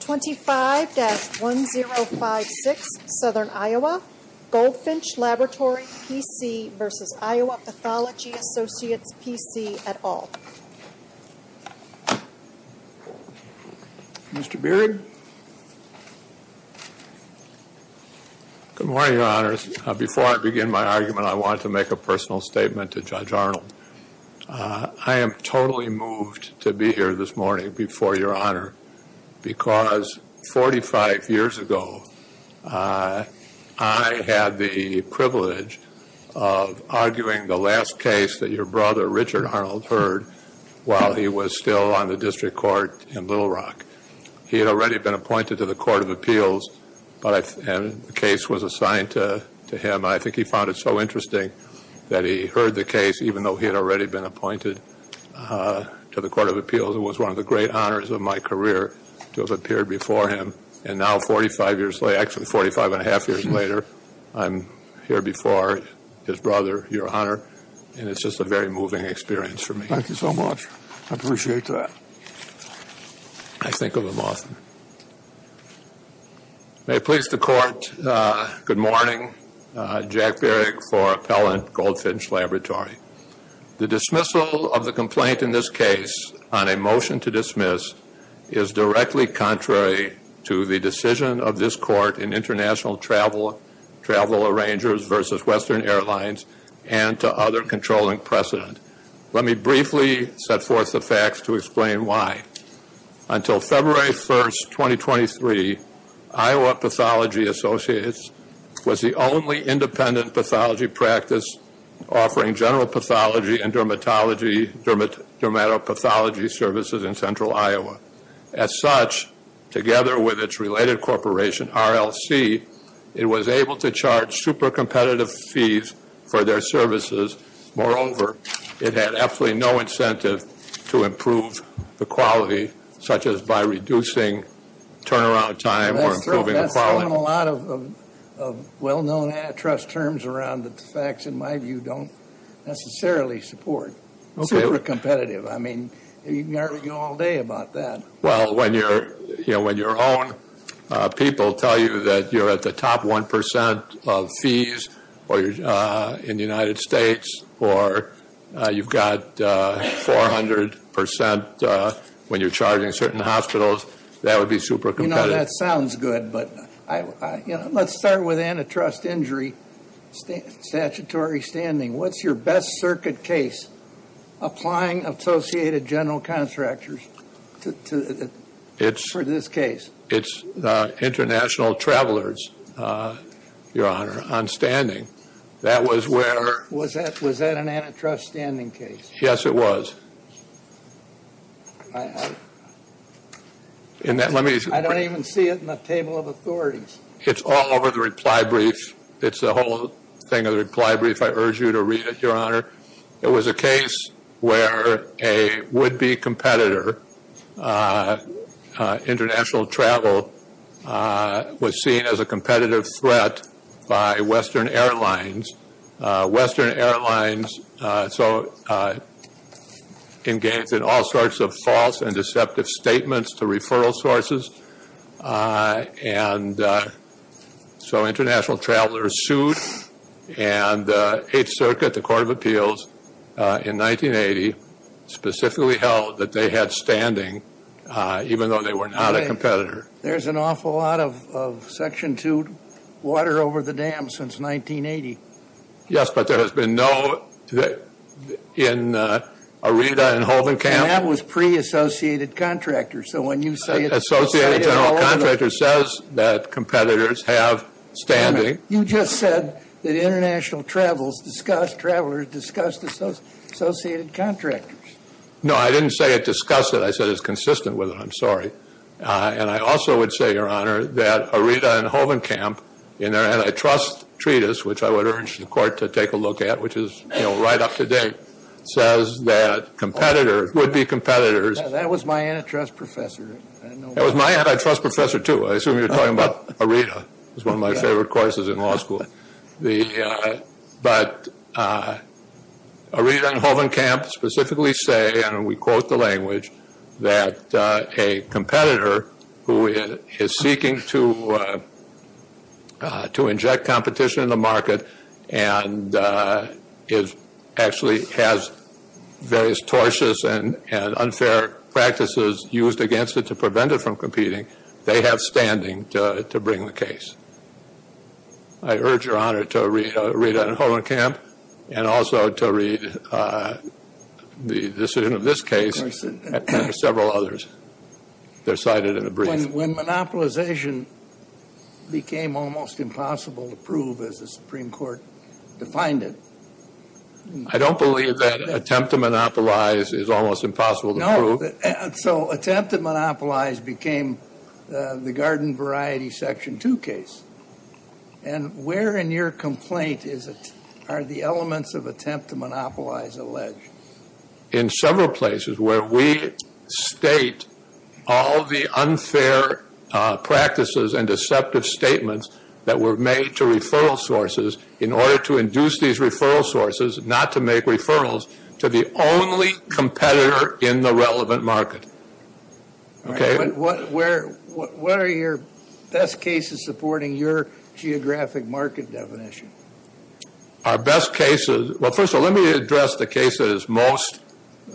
25-1056, Southern Iowa, Goldfinch Laboratory, P.C. v. Iowa Pathology Associates, P.C. et al. Mr. Beard? Good morning, Your Honors. Before I begin my argument, I want to make a personal statement to Judge Arnold. I am totally moved to be here this morning before Your Honor because 45 years ago, I had the privilege of arguing the last case that your brother, Richard Arnold, heard while he was still on the district court in Little Rock. He had already been appointed to the Court of Appeals, and the case was assigned to him. I think he found it so interesting that he heard the case even though he had already been appointed to the Court of Appeals. It was one of the great honors of my career to have appeared before him, and now 45 years later, actually 45 and a half years later, I'm here before his brother, Your Honor, and it's just a very moving experience for me. Thank you so much. I appreciate that. I think of him often. May it please the Court, good morning. Jack Berig for Appellant Goldfinch Laboratory. The dismissal of the complaint in this case on a motion to dismiss is directly contrary to the decision of this Court in International Travel Arrangers v. Western Airlines and to other controlling precedent. Let me briefly set forth the facts to explain why. Until February 1, 2023, Iowa Pathology Associates was the only independent pathology practice offering general pathology and dermatology, dermatopathology services in Central Iowa. As such, together with its related corporation, RLC, it was able to charge super competitive fees for their services. Moreover, it had absolutely no incentive to improve the quality, such as by reducing turnaround time or improving the quality. That's throwing a lot of well-known antitrust terms around that the facts, in my view, don't necessarily support. Super competitive, I mean, you can argue all day about that. Well, when your own people tell you that you're at the top 1% of fees in the United States, or you've got 400% when you're charging certain hospitals, that would be super competitive. You know, that sounds good, but let's start with antitrust injury, statutory standing. What's your best circuit case applying Associated General Contractors for this case? It's International Travelers, Your Honor, on standing. Was that an antitrust standing case? Yes, it was. I don't even see it in the table of authorities. It's all over the reply brief. It's the whole thing of the reply brief. I urge you to read it, Your Honor. It was a case where a would-be competitor, International Travel, was seen as a competitive threat by Western Airlines. Western Airlines engaged in all sorts of false and deceptive statements to referral sources, and so International Travelers sued, and 8th Circuit, the Court of Appeals, in 1980, specifically held that they had standing, even though they were not a competitor. There's an awful lot of Section 2 water over the dam since 1980. Yes, but there has been no, in Aretha and Holden Camp. And that was pre-Associated Contractors, so when you say it's associated all over. Associated General Contractors says that competitors have standing. You just said that International Travelers discussed Associated Contractors. No, I didn't say it discussed it. I said it's consistent with it. I'm sorry. And I also would say, Your Honor, that Aretha and Holden Camp in their antitrust treatise, which I would urge the Court to take a look at, which is, you know, right up to date, says that competitors, would-be competitors. That was my antitrust professor. That was my antitrust professor, too. I assume you're talking about Aretha. It was one of my favorite courses in law school. But Aretha and Holden Camp specifically say, and we quote the language, that a competitor who is seeking to inject competition in the market and actually has various tortious and unfair practices used against it to prevent it from competing, they have standing to bring the case. I urge, Your Honor, to read Aretha and Holden Camp and also to read the decision of this case and several others. They're cited in a brief. When monopolization became almost impossible to prove, as the Supreme Court defined it- I don't believe that attempt to monopolize is almost impossible to prove. So attempt to monopolize became the garden variety section 2 case. And where in your complaint are the elements of attempt to monopolize alleged? In several places where we state all the unfair practices and deceptive statements that were made to referral sources in order to induce these referral sources, not to make referrals to the only competitor in the relevant market. What are your best cases supporting your geographic market definition? Our best cases- well, first of all, let me address the case that is most-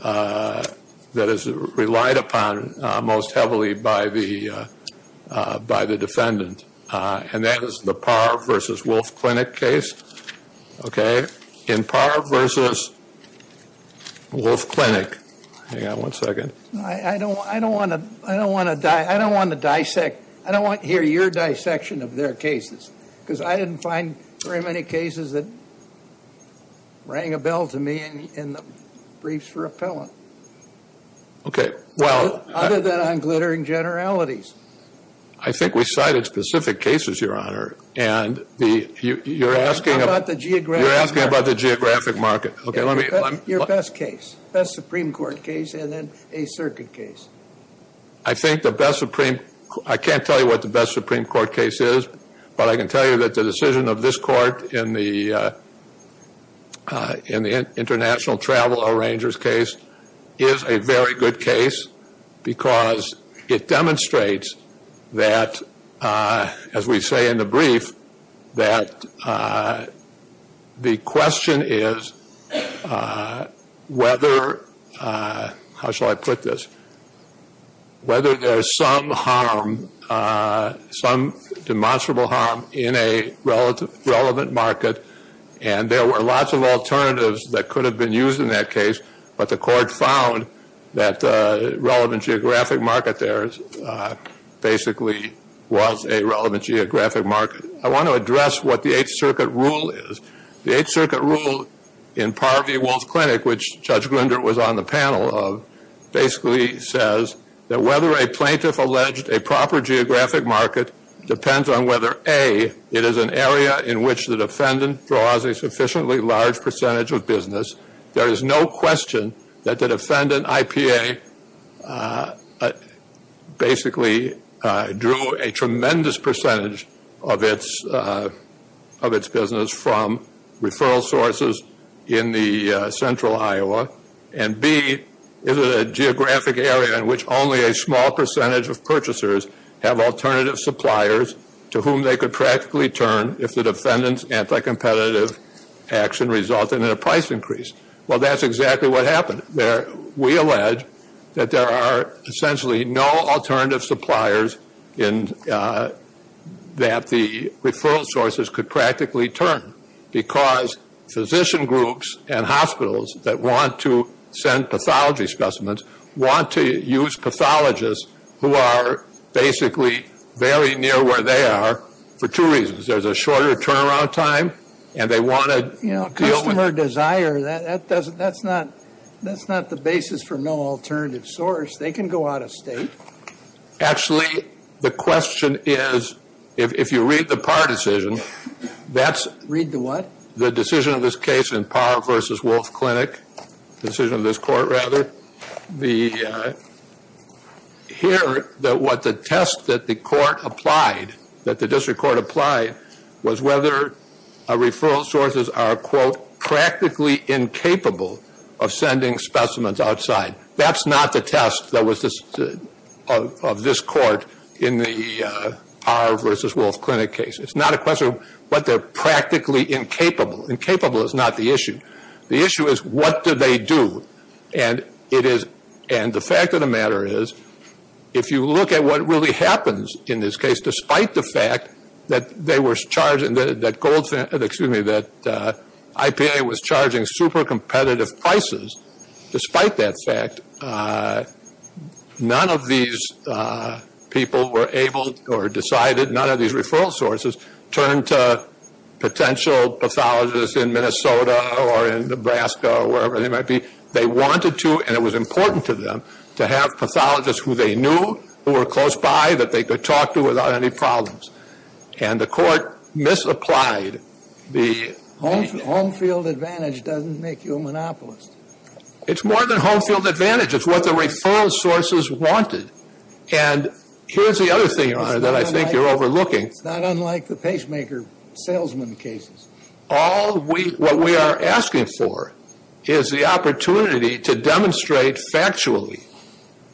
that is relied upon most heavily by the defendant. And that is the Parr v. Wolf Clinic case. Okay? In Parr v. Wolf Clinic. Hang on one second. I don't want to dissect- I don't want to hear your dissection of their cases. Because I didn't find very many cases that rang a bell to me in the briefs for appellant. Okay, well- Other than on glittering generalities. I think we cited specific cases, Your Honor. And the- you're asking about- About the geographic market. You're asking about the geographic market. Okay, let me- Your best case. Best Supreme Court case and then a circuit case. I think the best Supreme- I can't tell you what the best Supreme Court case is. But I can tell you that the decision of this court in the International Travel Arrangers case is a very good case because it demonstrates that, as we say in the brief, that the question is whether- how shall I put this? Whether there's some harm, some demonstrable harm in a relevant market. And there were lots of alternatives that could have been used in that case. But the court found that the relevant geographic market there basically was a relevant geographic market. I want to address what the Eighth Circuit rule is. The Eighth Circuit rule in Par v. Wolf Clinic, which Judge Glendert was on the panel of, basically says that whether a plaintiff alleged a proper geographic market depends on whether, A, it is an area in which the defendant draws a sufficiently large percentage of business. There is no question that the defendant, IPA, basically drew a tremendous percentage of its business from referral sources in the central Iowa. And, B, is it a geographic area in which only a small percentage of purchasers have alternative suppliers to whom they could practically turn if the defendant's anti-competitive action resulted in a price increase? Well, that's exactly what happened. We allege that there are essentially no alternative suppliers that the referral sources could practically turn because physician groups and hospitals that want to send pathology specimens want to use pathologists who are basically very near where they are for two reasons. One, they want to give the court a turnaround time, and they want to deal with... You know, customer desire, that's not the basis for no alternative source. They can go out of state. Actually, the question is, if you read the Par decision... Read the what? The decision of this case in Par v. Wolf Clinic, the decision of this court, rather, here, what the test that the court applied, that the district court applied, was whether referral sources are, quote, practically incapable of sending specimens outside. That's not the test that was of this court in the Par v. Wolf Clinic case. It's not a question of what they're practically incapable of. Incapable is not the issue. The issue is, what do they do? And it is... And the fact of the matter is, if you look at what really happens in this case, despite the fact that they were charging... Excuse me, that IPA was charging super competitive prices, despite that fact, none of these people were able or decided, none of these referral sources turned to potential pathologists in Minnesota or in Nebraska or wherever they might be. They wanted to, and it was important to them, to have pathologists who they knew, who were close by, that they could talk to without any problems. And the court misapplied the... Home field advantage doesn't make you a monopolist. It's more than home field advantage. It's what the referral sources wanted. And here's the other thing, Your Honor, that I think you're overlooking. It's not unlike the pacemaker salesman cases. All we, what we are asking for is the opportunity to demonstrate factually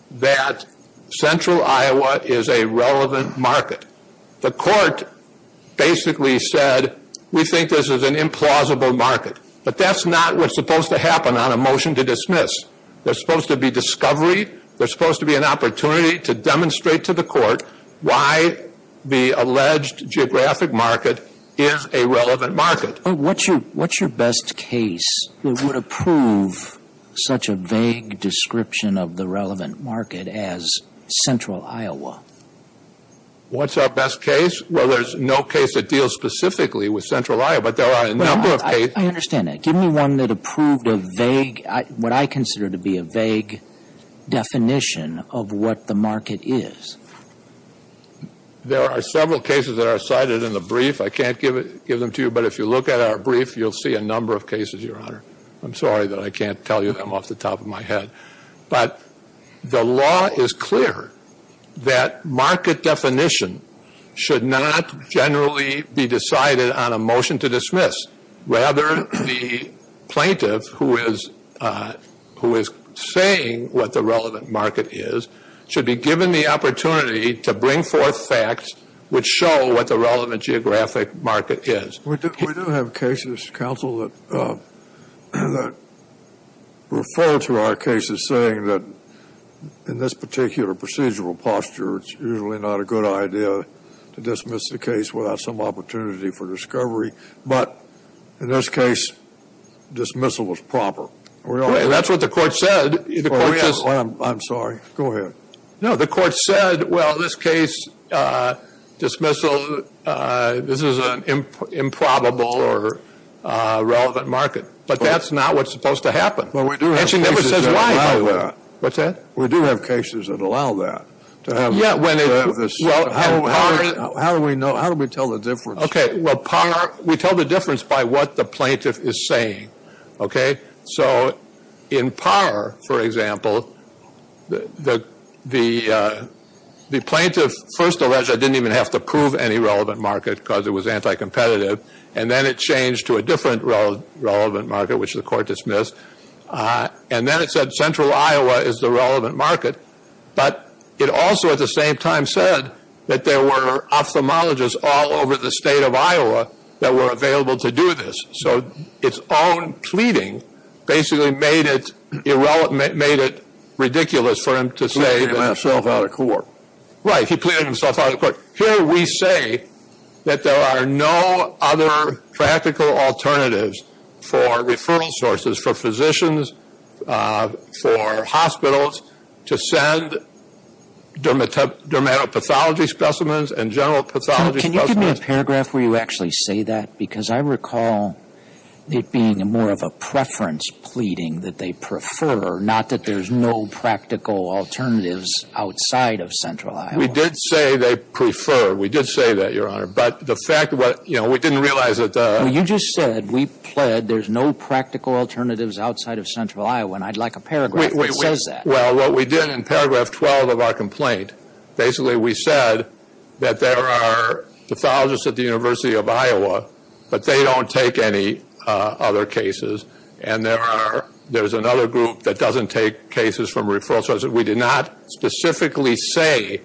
that Central Iowa is a relevant market. The court basically said, we think this is an implausible market. But that's not what's supposed to happen on a motion to dismiss. There's supposed to be discovery. There's supposed to be an opportunity to demonstrate to the court why the alleged geographic market is a relevant market. But what's your best case that would approve such a vague description of the relevant market as Central Iowa? What's our best case? Well, there's no case that deals specifically with Central Iowa, but there are a number of cases... I understand that. Give me one that approved a vague, what I consider to be a vague definition of what the market is. There are several cases that are cited in the brief. I can't give them to you, but if you look at our brief, you'll see a number of cases, Your Honor. I'm sorry that I can't tell you them off the top of my head. But the law is clear that market definition should not generally be decided on a motion to dismiss. Rather, the plaintiff, who is saying what the relevant market is, should be given the opportunity to bring forth facts which show what the relevant geographic market is. We do have cases, Counsel, that refer to our cases saying that in this particular procedural posture, it's usually not a good idea to dismiss the case without some opportunity for discovery. But in this case, dismissal was proper. That's what the court said. I'm sorry. Go ahead. No, the court said, well, in this case, dismissal, this is an improbable or relevant market. But that's not what's supposed to happen. And she never says why. What's that? We do have cases that allow that. Yeah. How do we know? How do we tell the difference? Okay. We tell the difference by what the plaintiff is saying. Okay? So in Parr, for example, the plaintiff first alleged it didn't even have to prove any relevant market because it was anti-competitive. And then it changed to a different relevant market, which the court dismissed. And then it said Central Iowa is the relevant market. But it also, at the same time, said that there were ophthalmologists all over the state of Iowa that were available to do this. So its own pleading basically made it ridiculous for him to say he pleaded himself out of court. Right, he pleaded himself out of court. Here we say that there are no other practical alternatives for referral sources for physicians, for hospitals to send dermatopathology specimens and general pathology specimens. Can you give me a paragraph where you actually say that? Because I recall it being more of a preference pleading that they prefer, not that there's no practical alternatives outside of Central Iowa. We did say they prefer. We did say that, Your Honor. But the fact, you know, we didn't realize that the... You just said we pled there's no practical alternatives outside of Central Iowa. And I'd like a paragraph that says that. Well, what we did in paragraph 12 of our complaint, basically we said that there are pathologists at the University of Iowa, but they don't take any other cases. And there's another group that doesn't take cases from referral sources. We did not specifically say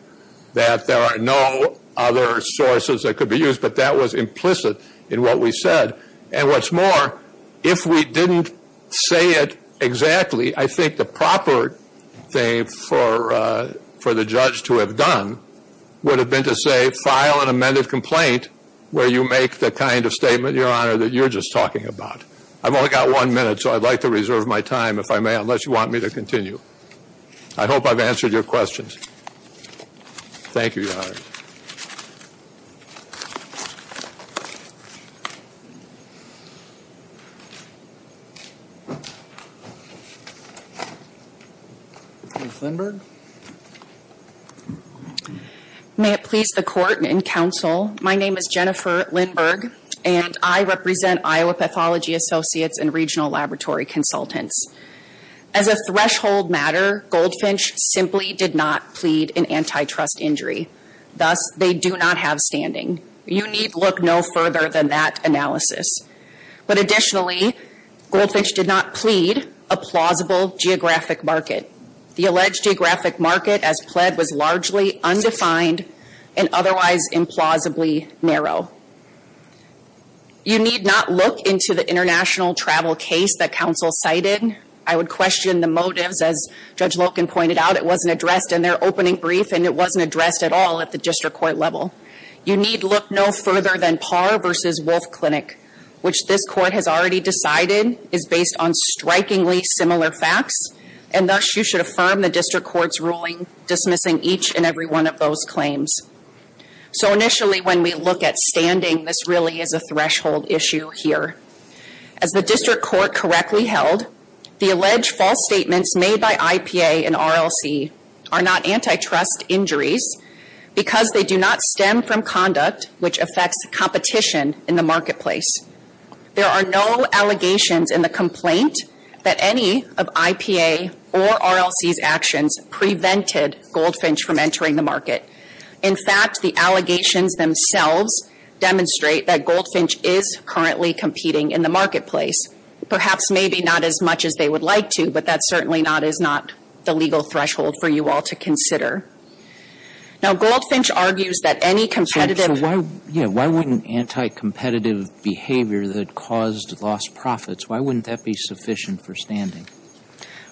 that there are no other sources that could be used, but that was implicit in what we said. And what's more, if we didn't say it exactly, I think the proper thing for the judge to have done would have been to say file an amended complaint where you make the kind of statement, Your Honor, that you're just talking about. I've only got one minute, so I'd like to reserve my time, if I may, unless you want me to continue. I hope I've answered your questions. Thank you, Your Honor. Ms. Lindberg? May it please the court and counsel, my name is Jennifer Lindberg, and I represent Iowa Pathology Associates and Regional Laboratory Consultants. As a threshold matter, Goldfinch simply did not plead an antitrust injury. Thus, they do not have standing. You need look no further than that analysis. But additionally, Goldfinch did not plead a plausible geographic market. The alleged geographic market as pled was largely undefined and otherwise implausibly narrow. You need not look into the international travel case that counsel cited. I would question the motives, as Judge Loken pointed out, it wasn't addressed in their opening brief and it wasn't addressed at all at the district court level. You need look no further than Parr v. Wolf Clinic, which this court has already decided is based on strikingly similar facts, and thus you should affirm the district court's ruling dismissing each and every one of the allegations. Goldfinch is currently competing in the marketplace. Perhaps maybe not as much as they would like to, but that certainly is not the legal threshold for you all to consider. Now, Goldfinch argues that any competitive... So why wouldn't anti-competitive behavior that caused lost profits, why wouldn't that be sufficient for standing?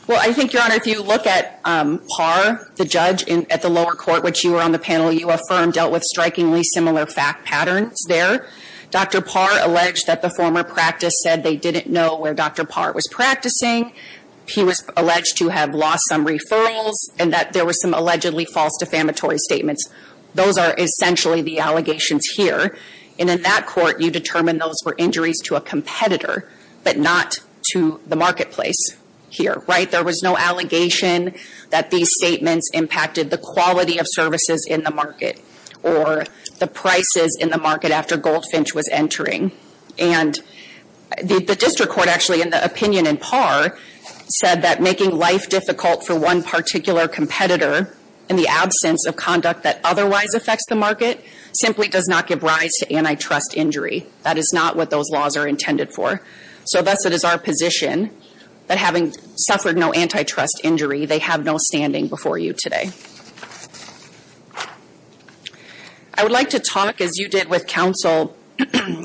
Well, I think, Your Honor, if you look at Parr, the judge at the lower court, which you were on the panel, you affirm dealt with strikingly similar fact patterns there. Dr. Parr alleged that the former practice said they didn't know where Dr. Parr was practicing. He was alleged to have lost some referrals and that there were some allegedly false defamatory statements. Those are essentially the allegations here. And in that court, you determined those were injuries to a competitor, but not to the marketplace here, right? There was no allegation that these statements impacted the quality of services in the market or the prices in the market after Goldfinch was entering. And the district court actually, in the opinion in Parr, said that making life difficult for one particular competitor in the absence of conduct that otherwise affects the market simply does not give rise to antitrust injury. That is not what those laws are intended for. So thus, it is our position that having suffered no antitrust injury, they have no standing before you today. I would like to talk, as you did with counsel,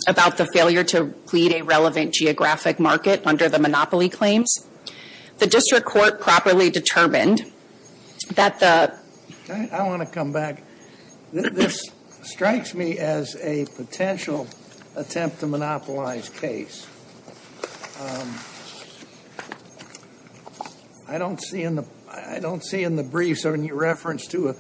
about the failure to plead a relevant geographic market under the monopoly claims. The district court properly determined that the... I want to come back. This strikes me as a potential attempt to monopolize case. I don't see in the... I don't see in the briefs reference to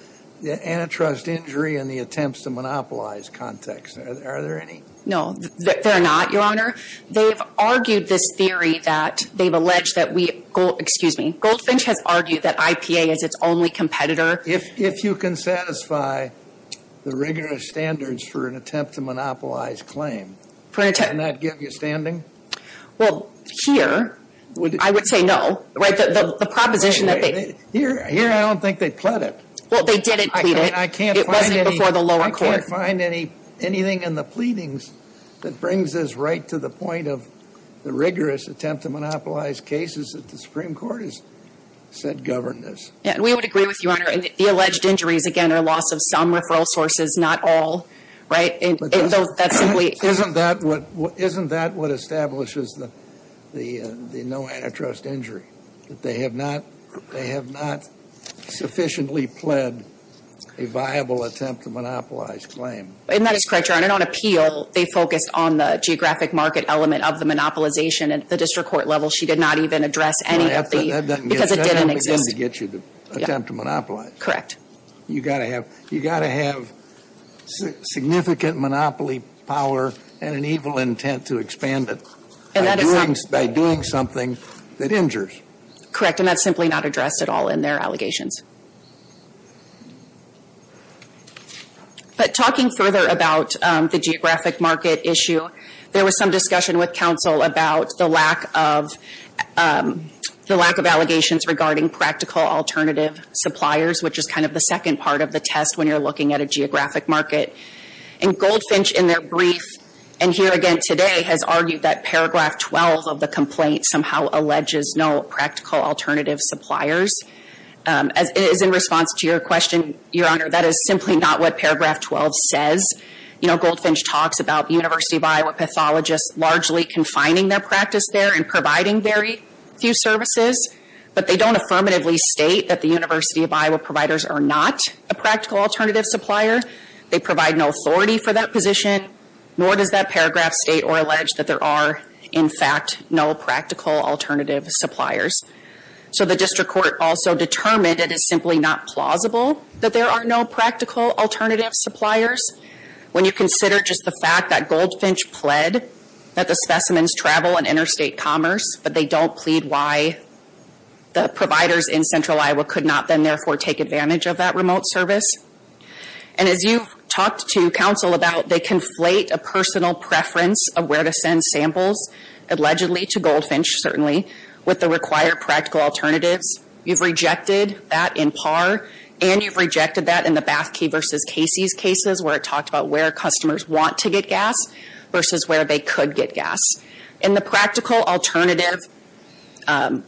antitrust injury and the attempts to monopolize context. Are there any? No, there are not, Your Honor. They've argued this theory that they've alleged that we... Goldfinch has argued that IPA is its only competitor. If you can satisfy the rigorous standards for an attempt to monopolize claim, can that give you standing? Well, here, I would say no. The proposition that they... Well, they didn't plead it. It wasn't before the lower court. I can't find anything in the pleadings that brings us right to the point of the rigorous attempt to monopolize cases that the Supreme Court has said govern this. We would agree with you, Your Honor. The alleged injuries, again, are loss of some referral sources, not all, right? Isn't that what establishes the no antitrust injury? That they have not sufficiently pled a viable attempt to monopolize claim. And that is correct, Your Honor. On appeal, they focused on the geographic market element of the monopolization. At the district court level, she did not even address any of the... That doesn't get you the attempt to monopolize. Correct. You've got to have significant monopoly power and an evil intent to expand it by doing something that injures. Correct. And that's simply not addressed at all in their allegations. But talking further about the geographic market issue, there was some discussion with counsel about the lack of... the lack of allegations regarding practical alternative suppliers, which is kind of the second part of the test when you're looking at a geographic market. And Goldfinch, in their brief, and here again today, has argued that paragraph 12 of the complaint somehow alleges no practical alternative suppliers. As in response to your question, Your Honor, that is simply not what paragraph 12 says. You know, Goldfinch talks about the University of Iowa pathologists largely confining their practice there and providing very few services, but they don't affirmatively state that the University of Iowa providers are not a practical alternative supplier. They provide no authority for that position, nor does that paragraph state or allege that there are, in fact, no practical alternative suppliers. So the district court also determined it is simply not plausible that there are no practical alternative suppliers when you consider just the fact that Goldfinch pled that the specimens travel in interstate commerce, but they don't plead why the providers in central Iowa could not then therefore take advantage of that remote service. And as you've talked to counsel about, they conflate a personal preference of where to send samples, allegedly to Goldfinch, certainly, with the required practical alternatives. You've rejected that in par, and you've rejected that in the Bathke versus Casey's cases where it talked about where customers want to get gas versus where they could get gas. And the practical alternative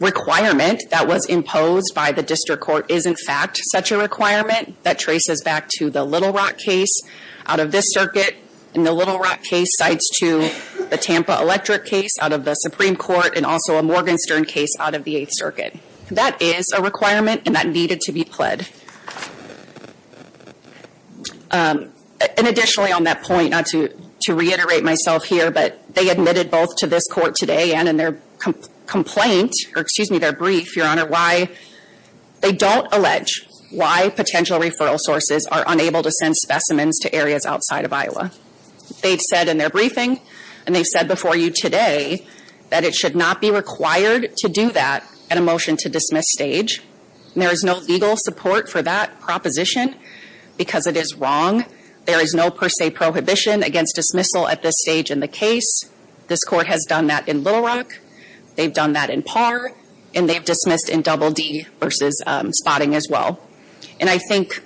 requirement that was imposed by the district court is, in fact, such a requirement that traces back to the Little Rock case out of this circuit. And the Little Rock case recites to the Tampa Electric case out of the Supreme Court and also a Morgenstern case out of the Eighth Circuit. That is a requirement and that needed to be pled. And additionally on that point, not to reiterate myself here, but they admitted both to this court today and in their complaint, or excuse me, their brief, your honor, why they don't allege why potential referral sources are unable to send specimens to areas outside of Iowa. They've said in their briefing and they've said before you today that it should not be required to do that at a motion to dismiss stage. And there is no legal support for that proposition because it is wrong. There is no per se prohibition against dismissal at this stage in the case. This court has done that in Little Rock. They've done that in par, and they've dismissed in Double D versus spotting as well. And I think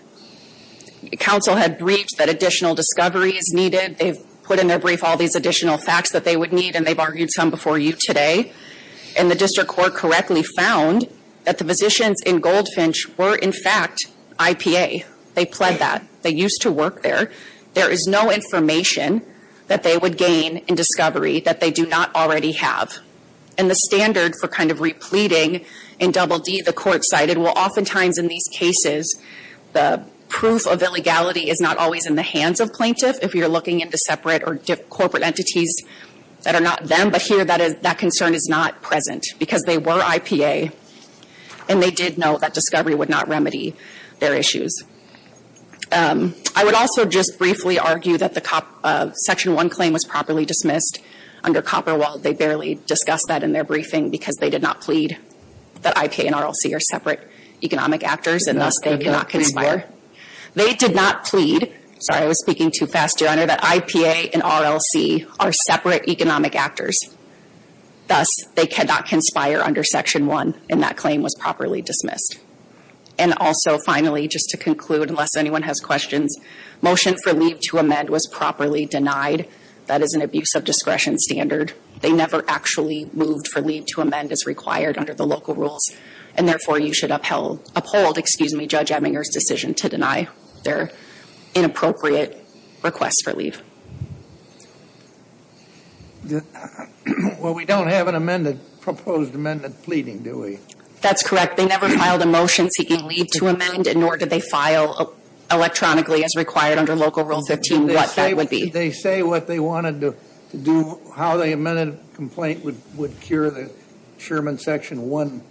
council had briefed that additional discovery is needed. They've put in their brief all these additional facts that they would need and they've argued some before you today. And the district court correctly found that the physicians in Goldfinch were in fact IPA. They pled that. They used to work there. There is no information that they would gain in discovery that they do not already have. And the standard for kind of repleting in Double D the court cited will oftentimes in these cases, the proof of illegality is in the hands of plaintiff if you're looking into separate or corporate entities that are not them. But here that concern is not present because they were IPA and they did know that discovery would not remedy their issues. I would also just briefly argue that the Section 1 claim was properly dismissed under Copperwall. They barely discussed that in their briefing because they did not plead that IPA and RLC are separate economic actors and thus they cannot conspire. They did not plead or I was speaking too fast, Your Honor, that IPA and RLC are separate economic actors. Thus, they cannot conspire under Section 1 and that claim was properly dismissed. And also finally, just to conclude unless anyone has questions, motion for leave to amend was properly denied. That is an abuse of discretion standard. They never actually moved for leave to amend as required under the local rules and therefore, you should uphold, excuse me, Judge Eminger's decision to deny their inappropriate requests for leave. Well, we don't have an amended, proposed amended pleading, do we? That's correct. They never filed a motion seeking leave to amend nor did they file electronically as required under Local Rule 15 what that would be. Did they say what they wanted to do, how they amended the complaint would cure the Sherman Section 1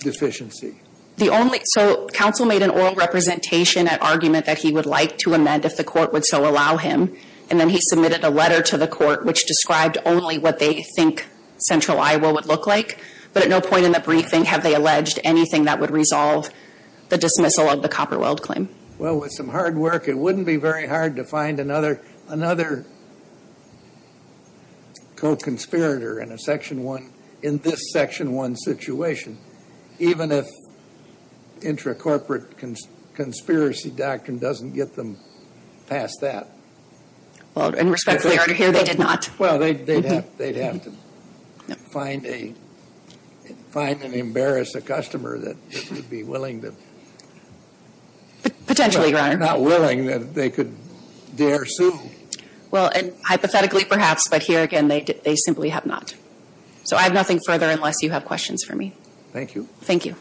deficiency? The only, so, did he submit an oral representation at argument that he would like to amend if the court would so allow him and then he submitted a letter to the court which described only what they think Central Iowa would look like but at no point in the briefing have they alleged anything that would resolve the dismissal of the Copperwell claim. Well, with some hard work it wouldn't be very hard to find another, another co-conspirator in a Section 1, in this Section 1 situation even if intra-corporate conspiracy doctrine doesn't get them past that. Well, in respect of the order here they did not. Well, they'd have to find a find and embarrass a customer that would be willing to Potentially, Your Honor. Not willing that they could dare sue. Well, and hypothetically perhaps but here again they simply have not. So, I have nothing further unless you have questions for me. Thank you. Thank you.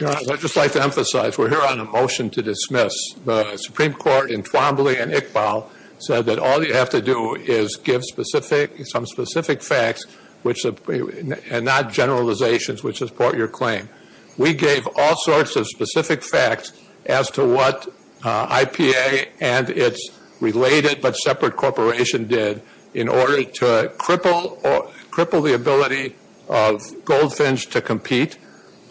Your Honor, I'd just like to emphasize we're here on a motion to dismiss. The Supreme Court in Twombly and Iqbal said that all you have to do is give specific some specific facts which and not generalizations which support your claim. We gave all sorts of specific facts as to what IPA and its related but separate corporation did in order to cripple the ability of Goldfinch to compete.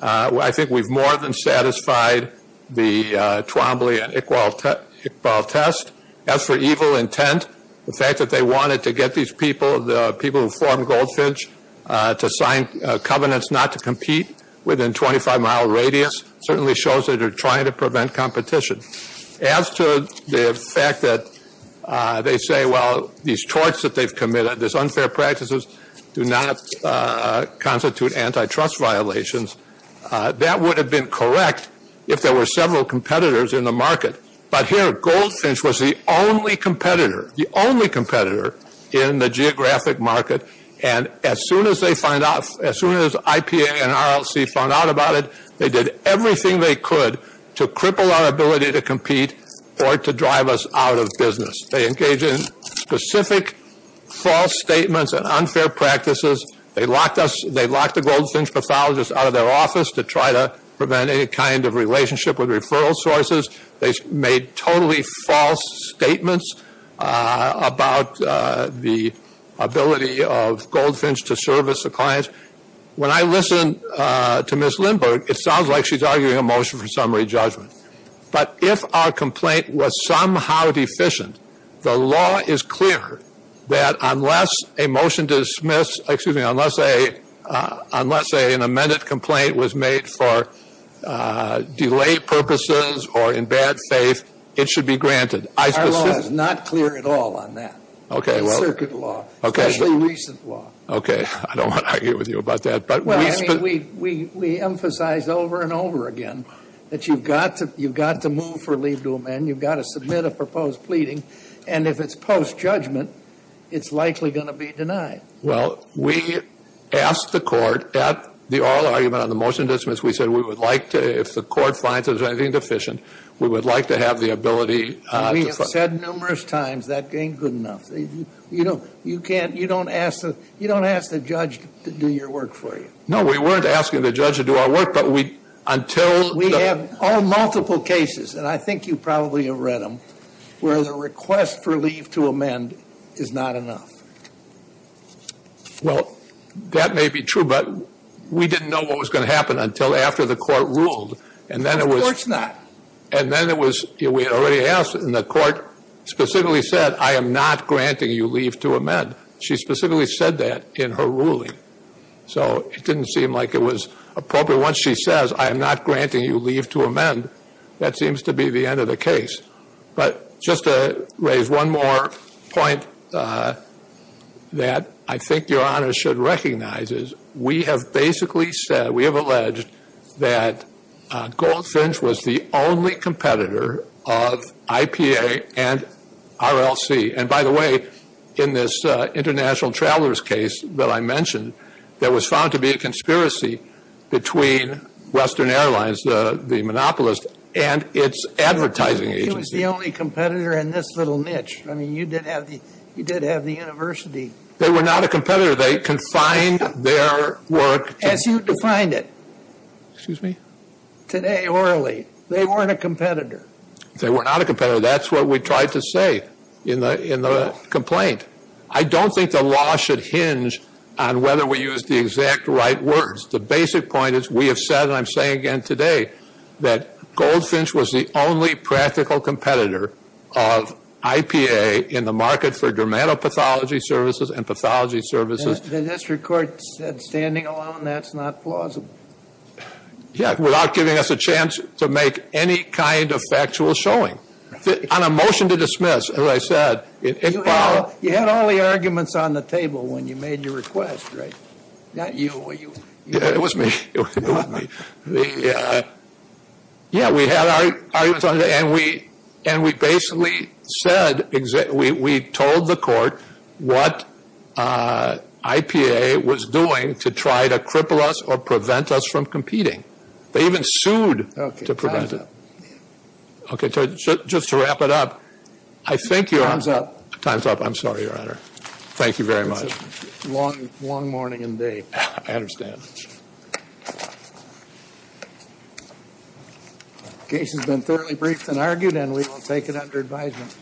I think we've more than satisfied the Twombly and Iqbal test. As for evil intent the fact that they wanted to get these people the people who formed Goldfinch to sign covenants not to compete within 25 mile radius certainly shows that they're trying to prevent competition. As to the fact that they say well these torts that they've committed these unfair practices do not constitute antitrust violations that would have been correct if there were several competitors in the market but here Goldfinch was the only competitor the only competitor in the geographic market and as soon as they found out as soon as IPA and RLC found out about it they did everything they could to cripple our ability to or to drive us out of business. They engaged in specific false statements and unfair practices. They locked us they locked the Goldfinch pathologists out of their office to try to prevent any kind of relationship with referral sources. They made totally false statements about the ability of Goldfinch to service the clients. When I listen to Ms. Lindberg it sounds like she's arguing a motion for summary judgment but if our complaint was somehow deficient the law is clear that unless a motion to dismiss excuse me unless an amended complaint was made for delayed purposes or in bad faith it should be granted. Our law is not clear at all on that. Especially recent law. We emphasize over and over again that you've got to move for leave to amend you've got to submit a motion to pleading and if it's post judgment it's likely going to be denied. Well we asked the court at the oral argument on the motion to dismiss we said if the court finds there's anything deficient we would like to have the ability to amend We have said numerous times that ain't good enough. You don't ask the judge to do your work for you. We weren't asking the judge to do our work. We have multiple cases and I think you probably have read them where the request for leave to amend was then it was we had already asked and the court specifically said I am not granting you leave to amend. She specifically said that in her ruling. So it didn't seem like it was appropriate. Once she says I am not granting you leave to amend that seems to be the end of the case. But just to raise one more point that I think your Honor should recognize is we have basically said we have alleged that Goldfinch was the only competitor of IPA and RLC. And by the way, in this international travelers case that I mentioned, there was found to be a between Western Airlines, the monopolist, and its advertising agency. She was the only competitor in this little niche. You did have the university. They were not a competitor. confined their work. As you defined it. Today, orally, they weren't a competitor. They were not a That's what we tried to say in the complaint. I don't think the law should hinge on whether we used the exact right words. The basic point is we have said, and I'm saying again today, that Goldfinch was the only practical competitor of IPA in the market for dermatopathology services and pathology services. The district court said standing alone that's not plausible. Yeah, without giving us a chance to make any kind of factual showing. On a motion to as I said. You had all the arguments on the table when you made your request, right? Not you. It was me. Yeah, we had our arguments on the table and we basically said, we told the court what IPA was doing to try to cripple us or prevent us from competing. They even sued to prevent it. Okay, just to wrap it up, I think your time's up. I'm sorry, your honor. Thank you very much. It's a long morning and day. The case has been thoroughly briefed and argued and we will take it under advisement.